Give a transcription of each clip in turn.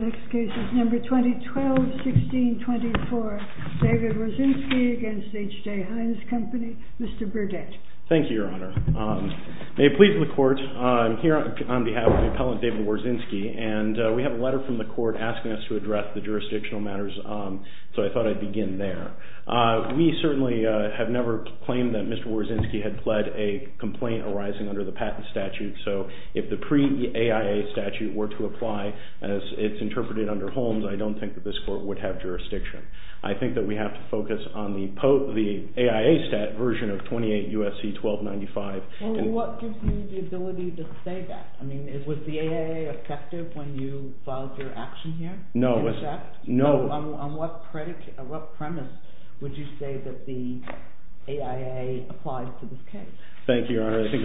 Mr. Burdett. Thank you, Your Honor. May it please the Court, I'm here on behalf of the appellant, David Wawrzynski, and we have a letter from the Court asking us to address the jurisdictional matters, so I thought I'd begin there. We certainly have never claimed that Mr. Wawrzynski had pled a complaint arising under the Patent Statute, so if the pre-AIA statute were to apply as it's interpreted under Holmes, I don't think that this Court would have jurisdiction. I think that we have to focus on the AIA stat version of 28 U.S.C. H.J. HEINZ CO Well, what gives you the ability to say that? I mean, was the AIA effective when you filed your action here? H.J. HEINZ CO No. H.J. HEINZ CO In fact? H.J. HEINZ CO No. H.J. HEINZ CO On what premise would you say that the AIA applied to this case? H.J. HEINZ CO Thank you, Your Honor. I think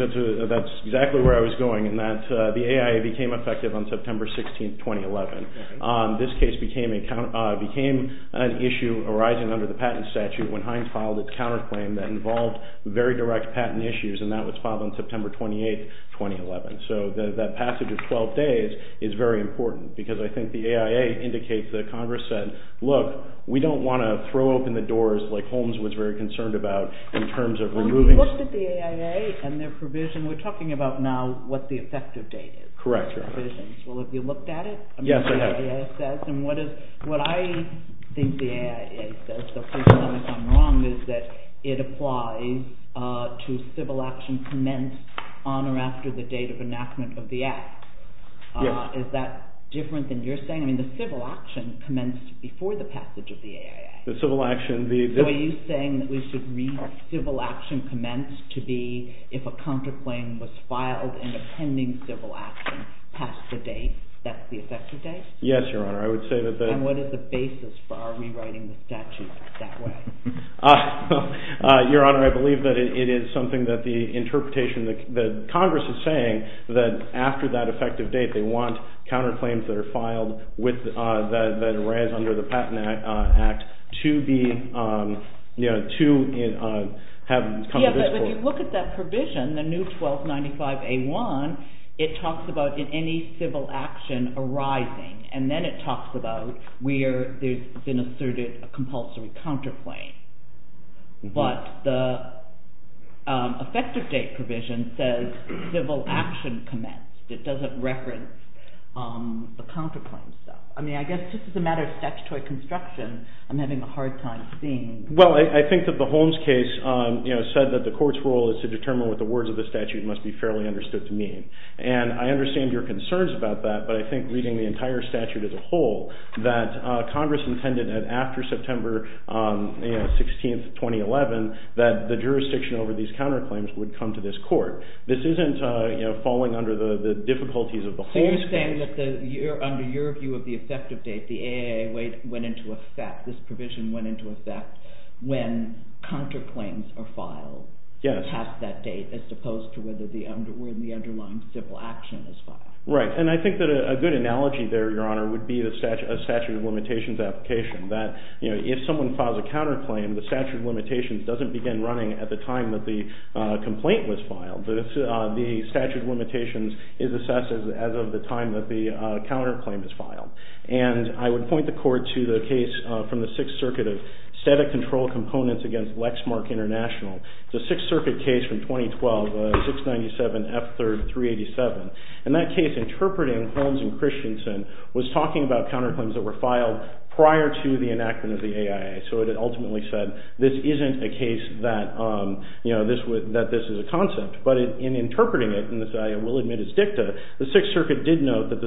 that's exactly where I was going, in that the AIA became effective on September 16, 2011. This case became an issue arising under the Patent Statute when Heinz filed a counterclaim that involved very direct patent issues, and that was filed on September 28, 2011. So that passage of 12 days is very important, because I think the AIA indicates that Congress said, look, we don't want to throw open the doors like Holmes was very concerned about in terms of removing... H.J. HEINZ CO You looked at the AIA and their provision. We're talking about now what the effective date is. H.J. HEINZ CO Correct, Your Honor. H.J. HEINZ CO Well, have you looked at it? H.J. HEINZ CO Yes, I have. H.J. HEINZ CO I mean, the AIA says, and what I think the AIA says, so please tell me if I'm wrong, is that it applies to civil action commenced on or after the date of enactment H.J. HEINZ CO Yes. H.J. HEINZ CO Is that different than you're saying? I mean, the civil action commenced before the passage of the AIA. H.J. HEINZ CO The civil action, the... H.J. HEINZ CO Yes, Your Honor. H.J. HEINZ CO I would say that... H.J. HEINZ CO And what is the basis for our rewriting the statute that way? H.J. HEINZ CO Your Honor, I believe that it is something that the interpretation, that Congress is saying that after that effective date, they want counterclaims that are filed with, that arise under the Patent Act to be, you know, to have... H.J. HEINZ CO ...competitiveness. H.J. HEINZ CO So if you look at that provision, the new 1295A1, it talks about any civil action arising, and then it talks about where there's been asserted a compulsory counterclaim. But the effective date provision says civil action commenced. It doesn't reference the counterclaims though. I mean, I guess just as a matter of statutory construction, I'm having a hard time seeing... H.J. HEINZ CO The Court's role is to determine what the words of the statute must be fairly understood to mean. And I understand your concerns about that, but I think reading the entire statute as a whole, that Congress intended that after September, you know, 16th, 2011, that the jurisdiction over these counterclaims would come to this Court. This isn't, you know, falling under the difficulties of the whole... H.J. HEINZ CO So you're saying that under your view of the effective date, the AAA went into effect, this provision went into effect when counterclaims are filed past that date as opposed to whether the underlying civil action is filed? H.J. HEINZ CO Right. And I think that a good analogy there, Your Honor, would be a statute of limitations application. That, you know, if someone files a counterclaim, the statute of limitations doesn't begin running at the time that the complaint was filed. The statute of limitations is assessed as of the time that the counterclaim is filed. And I would point the Court to the case from the Sixth Circuit of static control components against Lexmark International. It's a Sixth Circuit case from 2012, 697F3-387. And that case interpreting Holmes and Christensen was talking about counterclaims that were filed prior to the enactment of the AAA. So it ultimately said this isn't a case that, you know, that this is a concept. But in interpreting it, and this I will admit is dicta, the Sixth Circuit's interpretation of the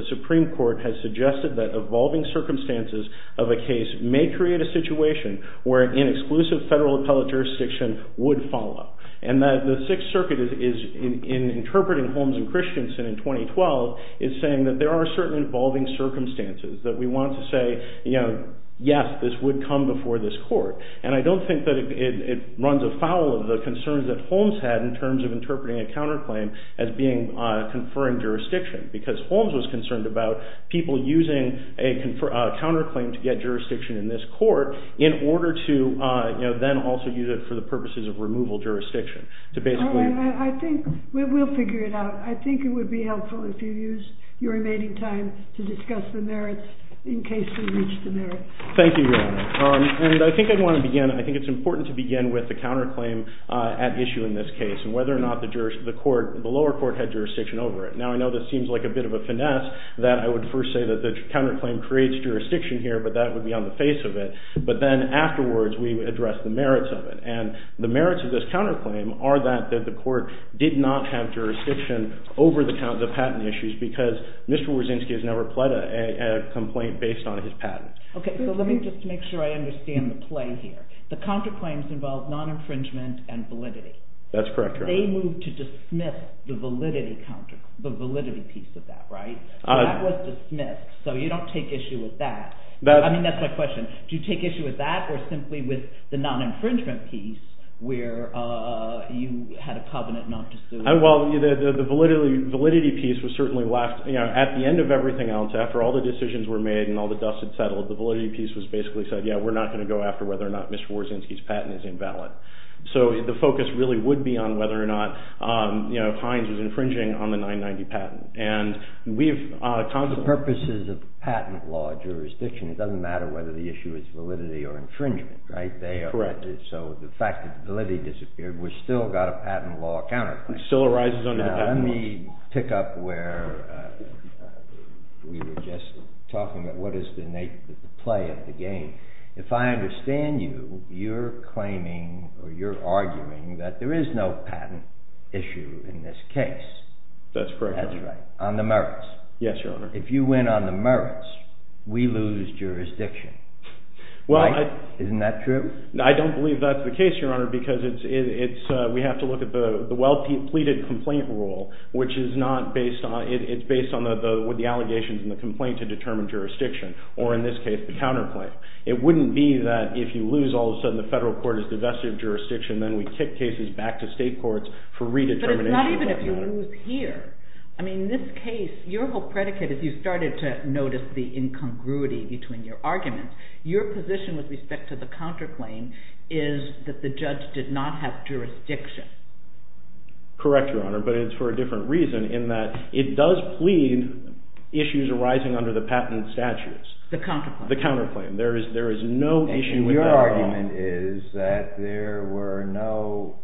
circumstances of a case may create a situation where an exclusive federal appellate jurisdiction would follow. And the Sixth Circuit is, in interpreting Holmes and Christensen in 2012, is saying that there are certain involving circumstances that we want to say, you know, yes, this would come before this Court. And I don't think that it runs afoul of the concerns that Holmes had in terms of interpreting a counterclaim as being conferring jurisdiction. Because Holmes was concerned about people using a counterclaim to get jurisdiction in this Court in order to, you know, then also use it for the purposes of removal jurisdiction. To basically... I think we'll figure it out. I think it would be helpful if you use your remaining time to discuss the merits in case we reach the merits. Thank you, Your Honor. And I think I'd want to begin, I think it's important to begin with the counterclaim at issue in this case. And whether or not the lower court had jurisdiction over it. Now, I know this seems like a bit of a finesse that I would first say that the counterclaim creates jurisdiction here, but that would be on the face of it. But then afterwards, we address the merits of it. And the merits of this counterclaim are that the Court did not have jurisdiction over the patent issues because Mr. Wozinski has never pled a complaint based on his patent. Okay, so let me just make sure I understand the play here. The counterclaims involve That's correct, Your Honor. They moved to dismiss the validity piece of that, right? That was dismissed, so you don't take issue with that. I mean, that's my question. Do you take issue with that or simply with the non-infringement piece where you had a covenant not to sue? Well, the validity piece was certainly left... At the end of everything else, after all the decisions were made and all the dust had settled, the validity piece was basically said, yeah, we're not going to go after whether or not Mr. Wozinski's patent is invalid. So the validity piece, whether or not Hines is infringing on the 990 patent. The purpose is a patent law jurisdiction. It doesn't matter whether the issue is validity or infringement, right? Correct. So the fact that validity disappeared, we've still got a patent law counterclaim. It still arises under the patent law. Now, let me pick up where we were just talking about what is the nature of the play of the If I understand you, you're claiming or you're arguing that there is no patent issue in this case. That's correct. That's right. On the merits. Yes, Your Honor. If you win on the merits, we lose jurisdiction. Well, I... Isn't that true? I don't believe that's the case, Your Honor, because we have to look at the well-pleaded complaint rule, which is not based on... It's based on the allegations in the complaint to determine jurisdiction, or in this case, the counterclaim. It wouldn't be that if you lose, all of a sudden, the federal court has divested jurisdiction and then we kick cases back to state courts for redetermination. But it's not even if you lose here. I mean, in this case, your whole predicate, if you started to notice the incongruity between your arguments, your position with respect to the counterclaim is that the judge did not have jurisdiction. Correct, Your Honor, but it's for a different reason in that it does plead issues arising under the patent statutes. The counterclaim. The counterclaim. There is no issue with that at all. And your argument is that there were no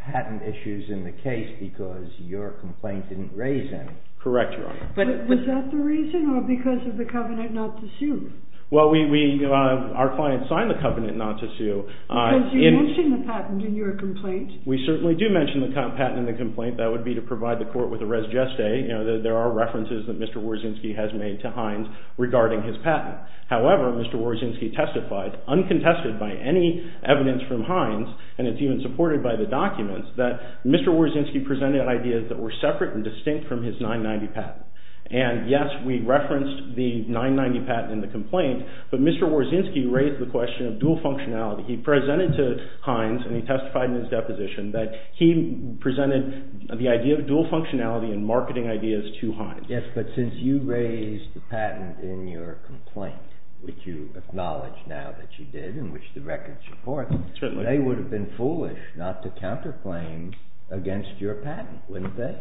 patent issues in the case because your complaint didn't raise any. Correct, Your Honor. But was that the reason, or because of the covenant not to sue? Well, we... Our client signed the covenant not to sue. Because you mentioned the patent in your complaint. We certainly do mention the patent in the complaint. That would be to provide the court with a res geste. You know, there are references that Mr. Warzynski has made to Hines regarding his patent. However, Mr. Warzynski testified, uncontested by any evidence from Hines, and it's even supported by the documents, that Mr. Warzynski presented ideas that were separate and distinct from his 990 patent. And yes, we referenced the 990 patent in the complaint, but Mr. Warzynski raised the question of dual functionality. He presented to Hines, and he testified in his deposition, that he presented the idea of dual functionality and marketing ideas to Hines. Yes, but since you raised the patent in your complaint, which you acknowledge now that you did, and which the records support, they would have been foolish not to counterclaim against your patent, wouldn't they?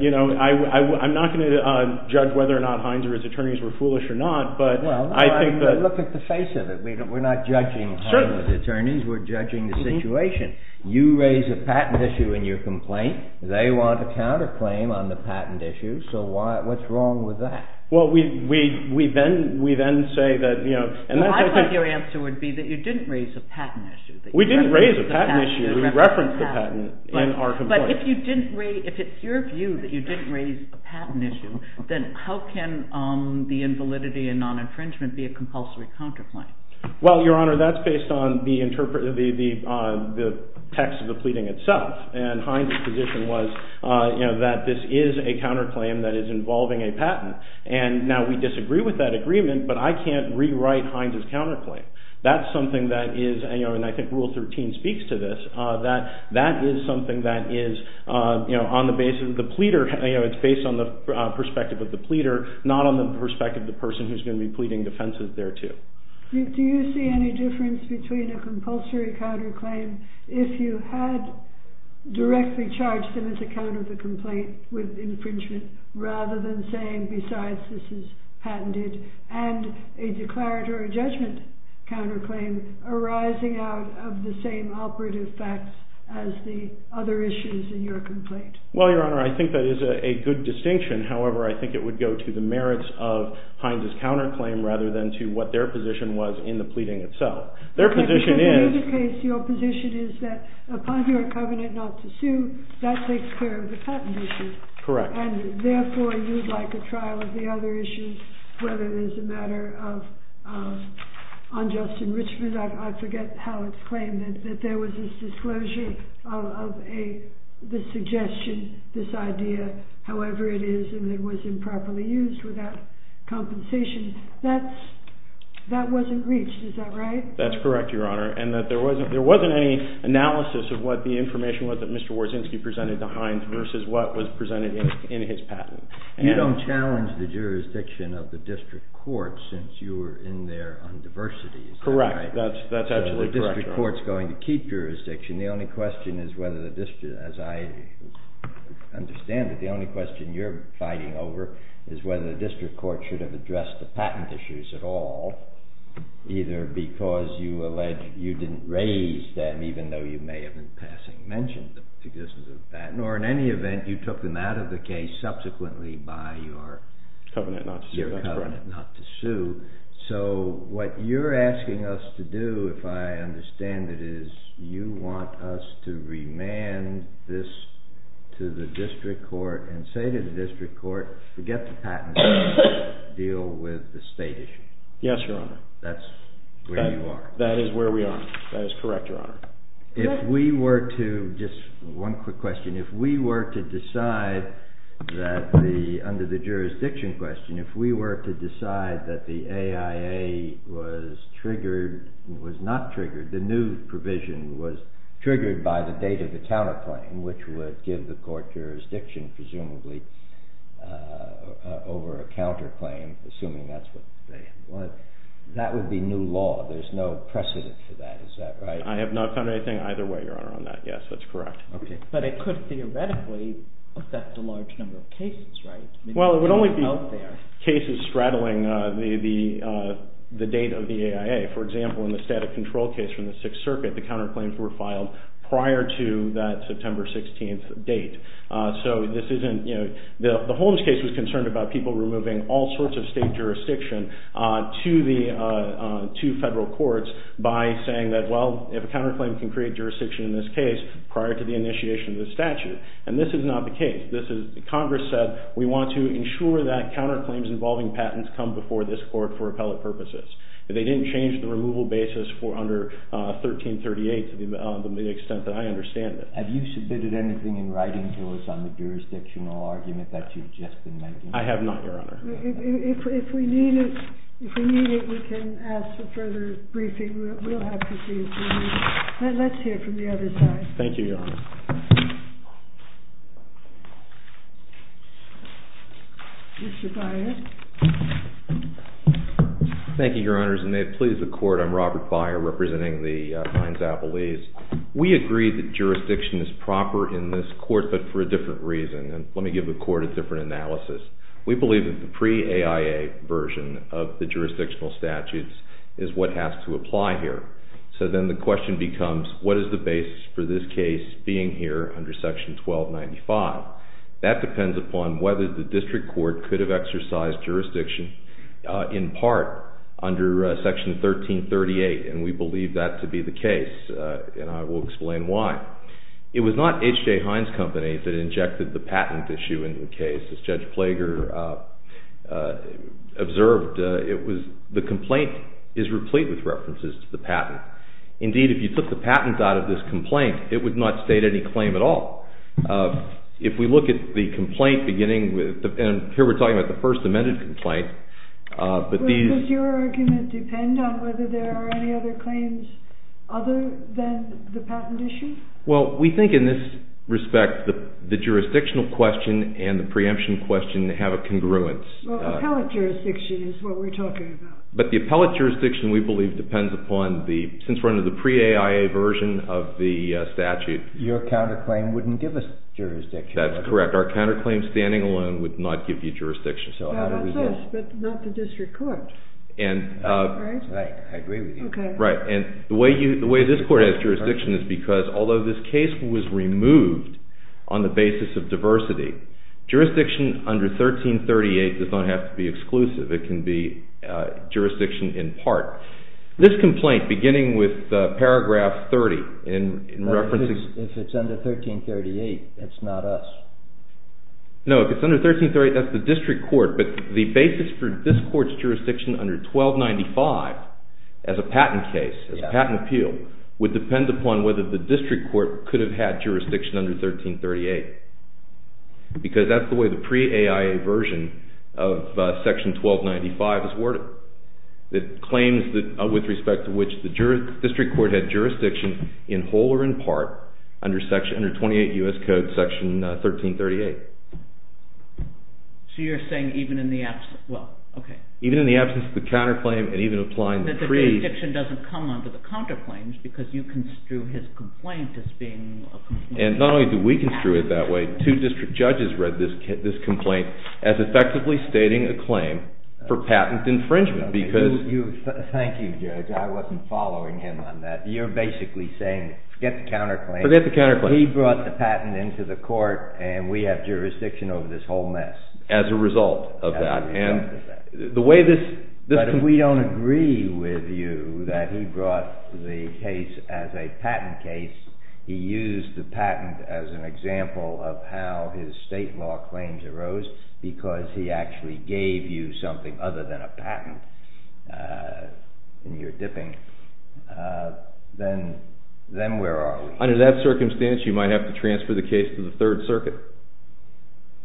You know, I'm not going to judge whether or not Hines or his attorneys were foolish or not, but I think that... Well, look at the face of it. We're not judging Hines' attorneys. We're judging the situation. You raise a patent issue in your complaint, they want to counterclaim on the patent issue, so what's wrong with that? Well, we then say that... Well, I thought your answer would be that you didn't raise a patent issue. We didn't raise a patent issue. We referenced the patent in our complaint. But if it's your view that you didn't raise a patent issue, then how can the invalidity and non-infringement be a compulsory counterclaim? Well, Your Honor, that's based on the text of the pleading itself, and Hines' position was that this is a counterclaim that is involving a patent, and now we disagree with that agreement, but I can't rewrite Hines' counterclaim. That's something that is, and I think Rule 13 speaks to this, that that is something that is on the basis of the pleader, it's based on the perspective of the pleader, not on the perspective of the person who's going to be pleading defenses thereto. Do you see any difference between a compulsory counterclaim if you had directly charged them as a counter to the complaint with infringement rather than saying, besides this is patented, and a declaratory judgment counterclaim arising out of the same operative facts as the other issues in your complaint? Well, Your Honor, I think that is a good distinction. However, I think it would go to the merits of Hines' counterclaim rather than to what their position was in the pleading itself. Their position is... In either case, your position is that upon your covenant not to sue, that takes care of the patent issues. Correct. And therefore, you'd like a trial of the other issues, whether it is a matter of unjust enrichment, I forget how it's claimed, that there was this disclosure of a suggestion, this idea, however it is, and it was improperly used without compensation. That wasn't reached, is that right? That's correct, Your Honor. And that there wasn't any analysis of what the information was that Mr. Warszynski presented to Hines versus what was presented in his patent. You don't challenge the jurisdiction of the district court since you were in there on diversity, is that right? Correct, that's absolutely correct. The district court's going to keep jurisdiction. The only question is whether the district, as I understand it, the only question you're fighting over is whether the district court should have addressed the patent issues at all, either because you alleged you didn't raise them even though you may have in passing mentioned the existence of a patent, or in any event, you took them out of the case subsequently by your covenant not to sue. So what you're asking us to do, if I understand it, is you want us to remand this to the district court and say to the district court, forget the patent issue, deal with the state issue. Yes, Your Honor. That's where you are. That is where we are. That is correct, Your Honor. If we were to, just one quick question, if we were to decide that the, under the jurisdiction question, if we were to decide that the AIA was triggered, was not triggered, the new provision was triggered by the date of the telephony, which would give the court jurisdiction, presumably, over a counterclaim, assuming that's what they want. That would be new law. There's no precedent for that. Is that right? I have not found anything either way, Your Honor, on that. Yes, that's correct. But it could theoretically affect a large number of cases, right? Well, it would only be cases straddling the date of the AIA. For example, in the static control case from the Sixth Circuit, the counterclaims were filed prior to that September 16th date. So this isn't, you know, the Holmes case was concerned about people removing all sorts of state jurisdiction to the, to federal courts by saying that, well, if a counterclaim can create jurisdiction in this case, prior to the initiation of the statute. And this is not the case. This is, Congress said, we want to ensure that counterclaims involving patents come before this court for appellate purposes. They didn't change the removal basis for under 1338 to the extent that I understand it. Have you submitted anything in writing to us on the jurisdictional argument that you've just been making? I have not, Your Honor. If we need it, we can ask for further briefing. We'll have to see if we need it. Let's hear from the other side. Thank you, Your Honor. Mr. Byer. Thank you, Your Honors. And may it please the Court, I'm Robert Byer, representing the Hines-Appelees. We agree that jurisdiction is proper in this court, but for a different reason. And let me give the Court a different analysis. We believe that the pre-AIA version of the jurisdictional statutes is what has to apply here. So then the question becomes, what is the basis for this case being here under Section 1295? That depends upon whether the district court could have exercised jurisdiction in part under Section 1338, and we believe that to be the case, and I will explain why. It was not H. J. Hines Company that injected the patent issue into the case. As Judge Plager observed, the complaint is replete with references to the patent. Indeed, if you took the patent out of this complaint, it would not state any claim at all. If we look at the complaint beginning with, and here we're talking about the First Amendment, it's a presented complaint. But does your argument depend on whether there are any other claims other than the patent issue? Well, we think in this respect the jurisdictional question and the preemption question have a congruence. Well, appellate jurisdiction is what we're talking about. But the appellate jurisdiction, we believe, depends upon the... since we're under the pre-AIA version of the statute... Your counterclaim wouldn't give us jurisdiction. That's correct. But our counterclaim standing alone would not give you jurisdiction. That's us, but not the district court. Right? I agree with you. The way this court has jurisdiction is because although this case was removed on the basis of diversity, jurisdiction under 1338 does not have to be exclusive. It can be jurisdiction in part. This complaint beginning with paragraph 30 in reference... If it's under 1338, it's not us. No, if it's under 1338, that's the district court. But the basis for this court's jurisdiction under 1295 as a patent case, as a patent appeal, would depend upon whether the district court could have had jurisdiction under 1338. Because that's the way the pre-AIA version of section 1295 is worded. It claims that with respect to which the district court had jurisdiction in whole or in part under 28 U.S. Code section 1338. So you're saying even in the absence... Even in the absence of the counterclaim and even applying the pre... That the jurisdiction doesn't come under the counterclaims because you construe his complaint as being... And not only do we construe it that way, two district judges read this complaint as effectively stating a claim for patent infringement because... Thank you, Judge. I wasn't following him on that. You're basically saying forget the counterclaim. Forget the counterclaim. He brought the patent into the court and we have jurisdiction over this whole mess. As a result of that. The way this... But if we don't agree with you that he brought the case as a patent case, he used the patent as an example of how his state law claims arose because he actually gave you something other than a patent and you're dipping. Then where are we? Under that circumstance you might have to transfer the case to the Third Circuit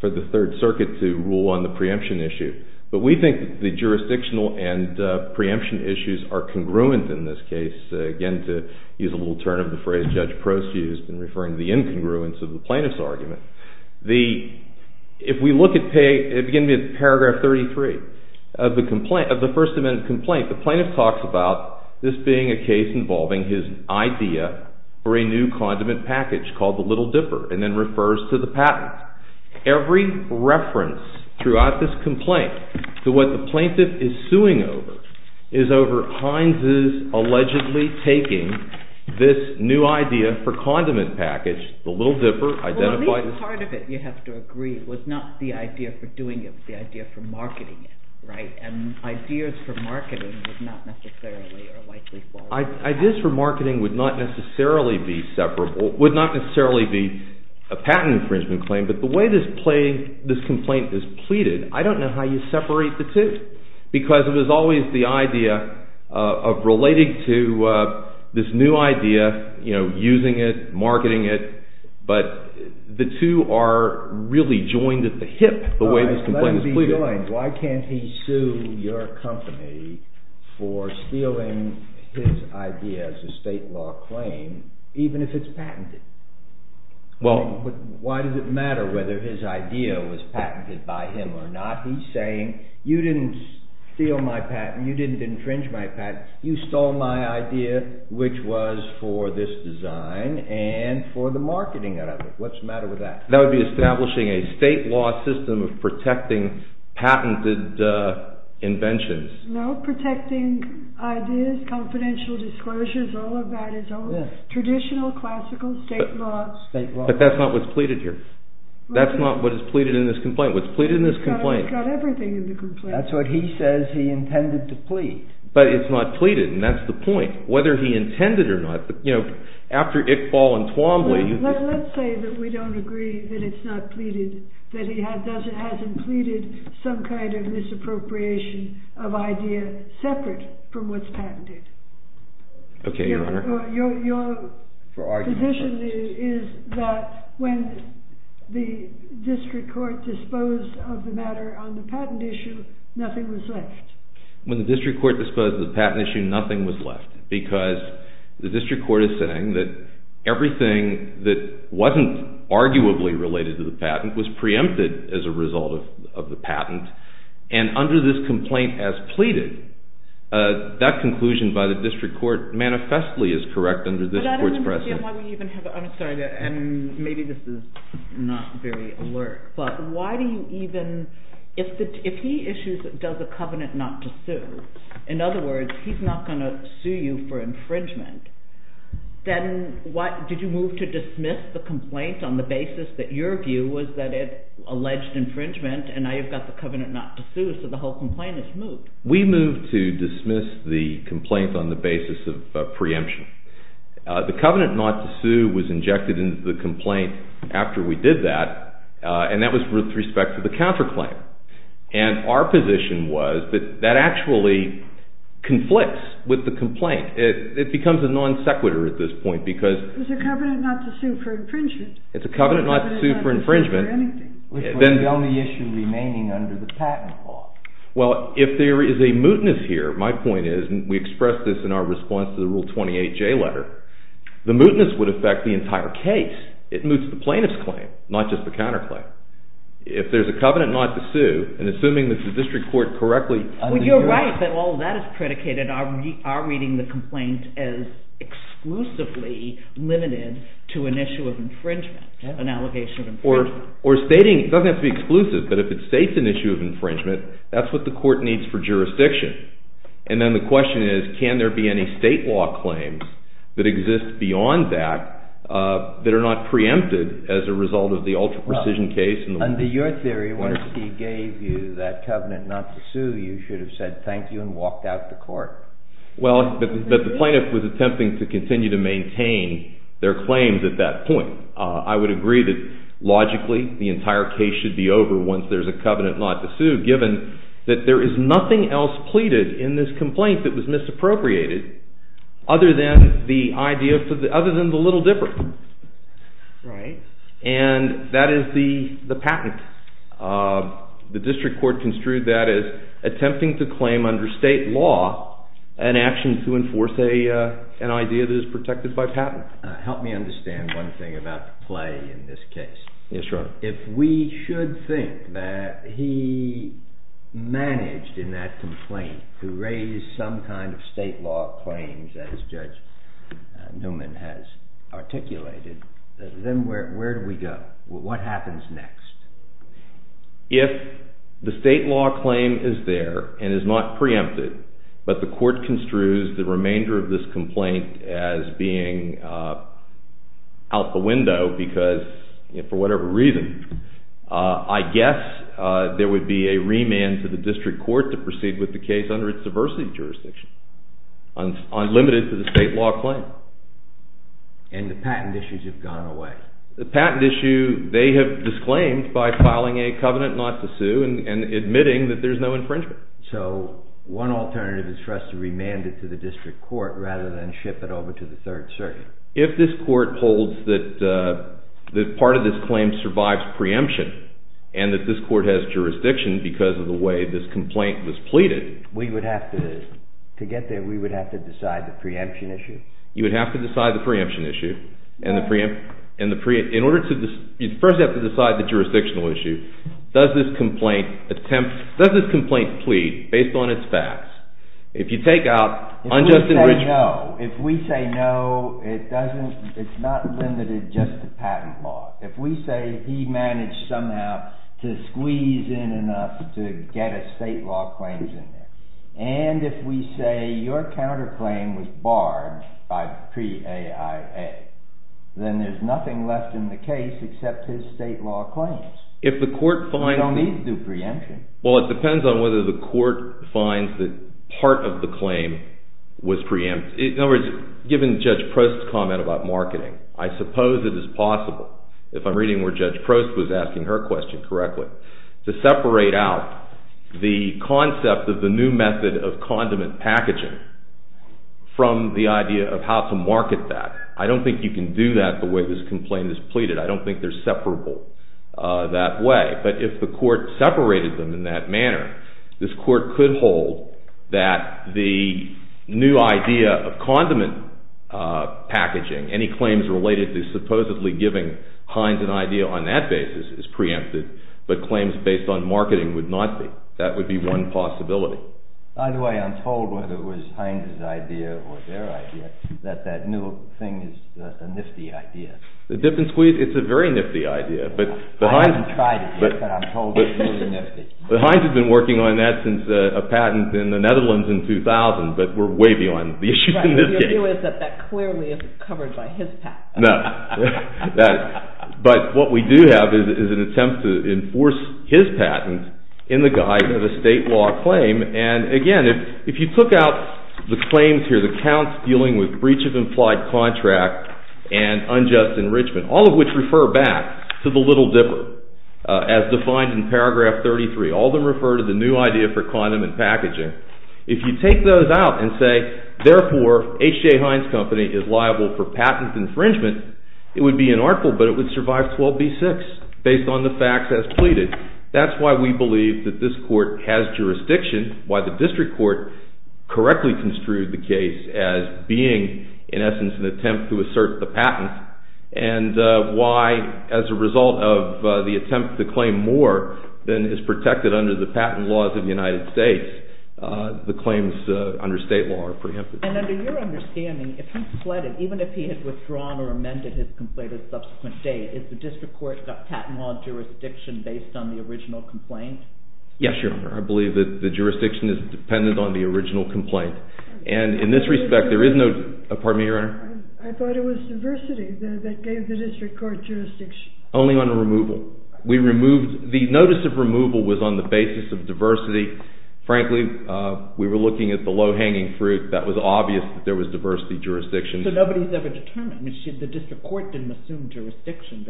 for the Third Circuit to rule on the preemption issue. But we think the jurisdictional and preemption issues are congruent in this case. Again, to use a little turn of the phrase Judge Prost used in referring to the incongruence of the plaintiff's argument. If we look at... Paragraph 33 of the first amendment complaint the plaintiff talks about this being a case involving his idea for a new condiment package called the Little Dipper and then refers to the patent. Every reference throughout this complaint to what the plaintiff is suing over is over Hines' allegedly taking this new idea for condiment package, the Little Dipper... At least part of it, you have to agree was not the idea for doing it but the idea for marketing it. Ideas for marketing would not necessarily or likely fall apart. Ideas for marketing would not necessarily be separable, would not necessarily be a patent infringement claim but the way this complaint is pleaded, I don't know how you separate the two because it was always the idea of relating to this new idea using it, marketing it but the two are really joined at the hip the way this complaint is pleaded. Why can't he sue your company for stealing his idea as a state law claim even if it's patented? Why does it matter whether his idea was patented by him or not? He's saying, you didn't steal my patent, you didn't entrench my patent, you stole my idea which was for this marketing out of it. What's the matter with that? That would be establishing a state law system of protecting patented inventions. No, protecting ideas confidential disclosures, all of that is all traditional, classical state law. But that's not what's pleaded here. That's not what's pleaded in this complaint. It's got everything in this complaint. That's what he says he intended to plead. But it's not pleaded and that's the point whether he intended it or not After Iqbal and Twombly Let's say that we don't agree that it's not pleaded that he hasn't pleaded some kind of misappropriation of idea separate from what's patented. Your position is that when the district court disposed of the matter on the patent issue nothing was left. When the district court disposed of the patent issue, nothing was left because the district court is saying that everything that wasn't arguably related to the patent was preempted as a result of the patent and under this complaint as pleaded, that conclusion by the district court manifestly is correct under this court's precedent. I'm sorry maybe this is not very alert, but why do you even if he issues does a covenant not to sue in other words, he's not going to sue you for infringement then what, did you move to dismiss the complaint on the basis that your view was that it alleged infringement and now you've got the covenant not to sue so the whole complaint is moved. We moved to dismiss the complaint on the basis of preemption. The covenant not to sue was injected into the complaint after we did that and that was with respect to the counterclaim and our position was that actually conflicts with the complaint it becomes a non-sequitur at this point because it's a covenant not to sue for infringement which was the only issue remaining under the patent law well, if there is a mootness here, my point is we expressed this in our response to the Rule 28 J letter, the mootness would affect the entire case it moots the plaintiff's claim, not just the counterclaim if there's a covenant not to sue and assuming that the district court correctly well, you're right, but all that is predicated on our reading the complaint as exclusively limited to an issue of infringement, an allegation of infringement or stating, it doesn't have to be exclusive but if it states an issue of infringement that's what the court needs for jurisdiction and then the question is can there be any state law claims that exist beyond that that are not preempted as a result of the ultra-precision case under your theory, once he gave you that covenant not to sue you should have said thank you and walked out the court well, but the plaintiff was attempting to continue to maintain their claims at that point I would agree that logically the entire case should be over once there's a covenant not to sue given that there is nothing else pleaded in this complaint that was misappropriated other than the little dipper right and that is the patent the district court construed that as attempting to claim under state law an action to enforce an idea that is protected by patent help me understand one thing about the play in this case if we should think that he managed in that complaint to raise some kind of state law claims as Judge Newman has articulated then where do we go what happens next if the state law claim is there and is not preempted but the court construes the remainder of this complaint as being out the window because for whatever reason I guess there would be a remand to the district court to proceed with the case under its diversity jurisdiction unlimited to the state law claim and the patent issues have gone away the patent issue they have disclaimed by filing a covenant not to sue and admitting that there's no infringement so one alternative is for us to remand it to the district court rather than ship it over to the third circuit if this court holds that part of this claim survives preemption and that this court has jurisdiction because of the way this complaint was pleaded to get there we would have to decide the preemption issue you would have to decide the preemption issue in order to decide the jurisdictional issue does this complaint plead based on its facts if you take out if we say no it's not limited just to patent law if we say he managed somehow to squeeze in enough to get a state law claim and if we say your counterclaim was barred by pre AIA then there's nothing left in the case except his state law claims if the court finds preemption well it depends on whether the court finds that part of the claim was preempted in other words given Judge Prost's comment about marketing I suppose it is possible if I'm reading where Judge Prost was asking her question to separate out the concept of the new method of condiment packaging from the idea of how to market that I don't think you can do that the way this complaint is pleaded I don't think they're separable that way but if the court separated them in that manner this court could hold that the new idea of condiment packaging any claims related to supposedly giving Heinz an idea on that basis is preempted but claims based on marketing would not be that would be one possibility by the way I'm told whether it was Heinz's idea or their idea that that new thing is a nifty idea it's a very nifty idea I haven't tried it yet but I'm told it's really nifty but Heinz has been working on that since a patent in the Netherlands in 2000 but we're way beyond the issues in this case that clearly isn't covered by his patent no but what we do have is an attempt to enforce his patent in the guise of a state law claim and again if you took out the claims here the counts dealing with breach of implied contract and unjust enrichment all of which refer back to the little dipper as defined in paragraph 33 all of them refer to the new idea for condiment packaging if you take those out and say therefore H.J. Heinz company is liable for patent infringement it would be an article but it would survive 12b6 based on the facts as pleaded that's why we believe that this court has jurisdiction why the district court correctly construed the case as being in essence an attempt to assert the patent and why as a result of the attempt to claim more than is protected under the patent laws of the United States the claims under state law are preempted and under your understanding even if he had withdrawn or amended his complaint a subsequent date is the district court jurisdiction based on the original complaint yes your honor I believe that the jurisdiction is dependent on the original complaint and in this respect there is no pardon me your honor I thought it was diversity that gave the district court jurisdiction only on removal we removed the notice of removal was on the basis of diversity frankly we were looking at the low hanging fruit that was obvious that there was diversity jurisdiction so nobody has ever determined the district court didn't assume jurisdiction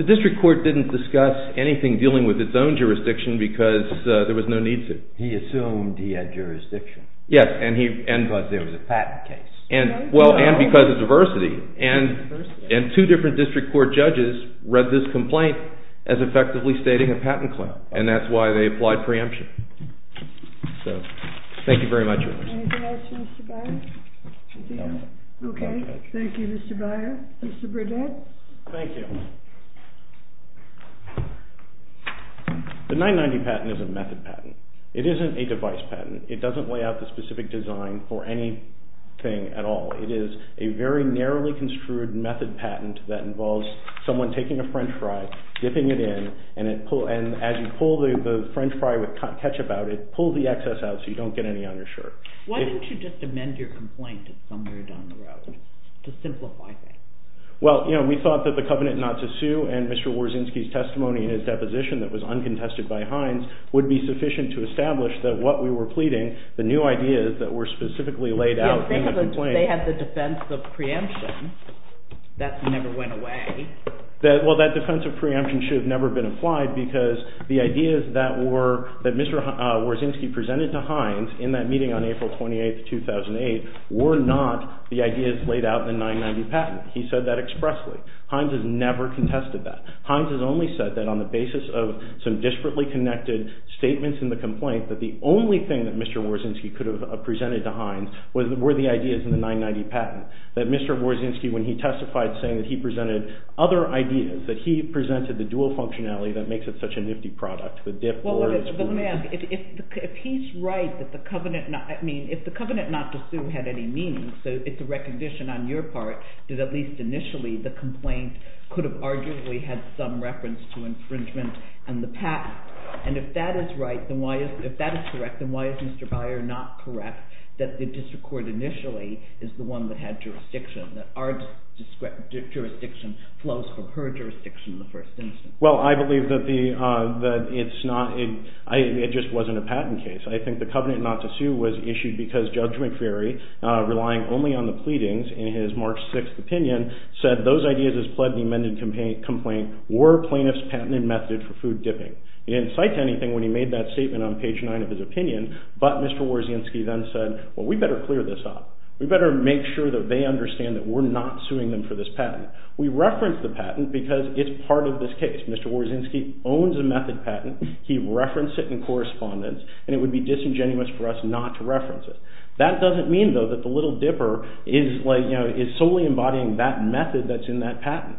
the district court didn't discuss anything dealing with its own jurisdiction because there was no need to he assumed he had jurisdiction yes and he thought there was a patent case well and because of diversity and two different district court judges read this complaint as effectively stating a patent claim and that's why they applied preemption thank you thank you very much anything else Mr. Byer thank you Mr. Byer Mr. Burdett thank you the 990 patent is a method patent it isn't a device patent it doesn't lay out the specific design for anything at all it is a very narrowly construed method patent that involves someone taking a french fry dipping it in and as you pull the french fry with ketchup out it pulls the excess out so you don't get any on your shirt why didn't you just amend your complaint somewhere down the road to simplify things well we thought that the covenant not to sue and Mr. Warzynski's testimony and his deposition that was uncontested by Heinz would be sufficient to establish that what we were pleading the new ideas that were specifically laid out they had the defense of preemption that never went away well that defense of preemption should have never been applied because the ideas that Mr. Warzynski presented to Heinz in that meeting on April 28, 2008 were not the ideas laid out in the 990 patent he said that expressly Heinz has never contested that Heinz has only said that on the basis of some disparately connected statements in the complaint that the only thing that Mr. Warzynski could have presented to Heinz were the ideas in the 990 patent that Mr. Warzynski when he testified saying that he presented other ideas that he presented the dual functionality that makes it such a nifty product well let me ask if he's right that the covenant if the covenant not to sue had any meaning so it's a recognition on your part that at least initially the complaint could have arguably had some reference to infringement and the patent and if that is correct then why is Mr. Beyer not correct that the district court initially is the one that had jurisdiction that our jurisdiction flows from her jurisdiction well I believe that it's not it just wasn't a patent case I think the covenant not to sue was issued because Judge McFerry relying only on the pleadings in his March 6th opinion said those ideas as pledged in the amended complaint were plaintiff's patented method for food dipping he didn't cite anything when he made that statement on page 9 of his opinion but Mr. Warzynski then said we better clear this up we better make sure that they understand that we're not suing them for this patent we reference the patent because it's part of this case Mr. Warzynski owns a method patent he referenced it in correspondence and it would be disingenuous for us not to reference it that doesn't mean though that the little dipper is solely embodying that method that's in that patent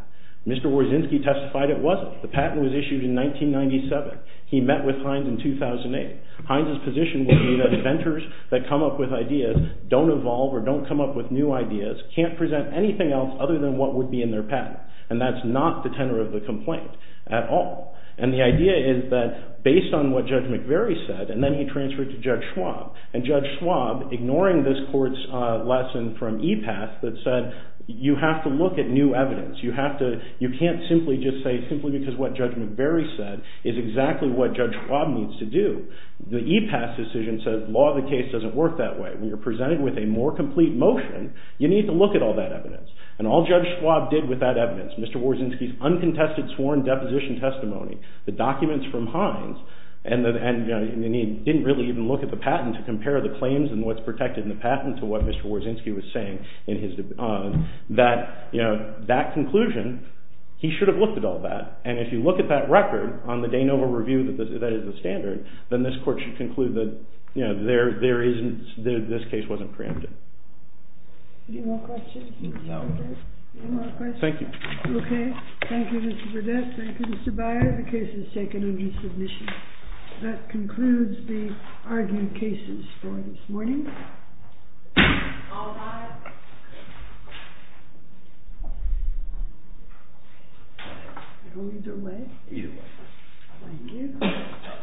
Mr. Warzynski testified it wasn't the patent was issued in 1997 he met with Hines in 2008 Hines' position would be that inventors that come up with ideas don't evolve or don't come up with new ideas can't present anything else other than what would be in their patent and that's not the tenor of the complaint at all and the idea is that based on what Judge McFerry said and then he transferred to Judge Schwab and Judge Schwab ignoring this court's lesson from EPAS that said you have to look at new evidence you can't simply just say simply because what Judge McFerry said is exactly what Judge Schwab needs to do the EPAS decision says law of the case doesn't work that way when you're presented with a more complete motion you need to look at all that evidence and all Judge Schwab did with that evidence Mr. Warzynski's uncontested sworn deposition testimony the documents from Hines and he didn't really even look at the patent to compare the claims and what's protected in the patent to what Mr. Warzynski was saying that conclusion he should have looked at all that and if you look at that record on the De Novo review that is the standard then this court should conclude that this case wasn't preempted Any more questions? No Thank you Thank you Mr. Burdett, thank you Mr. Beyer the case is taken under submission that concludes the argued cases for this morning Thank you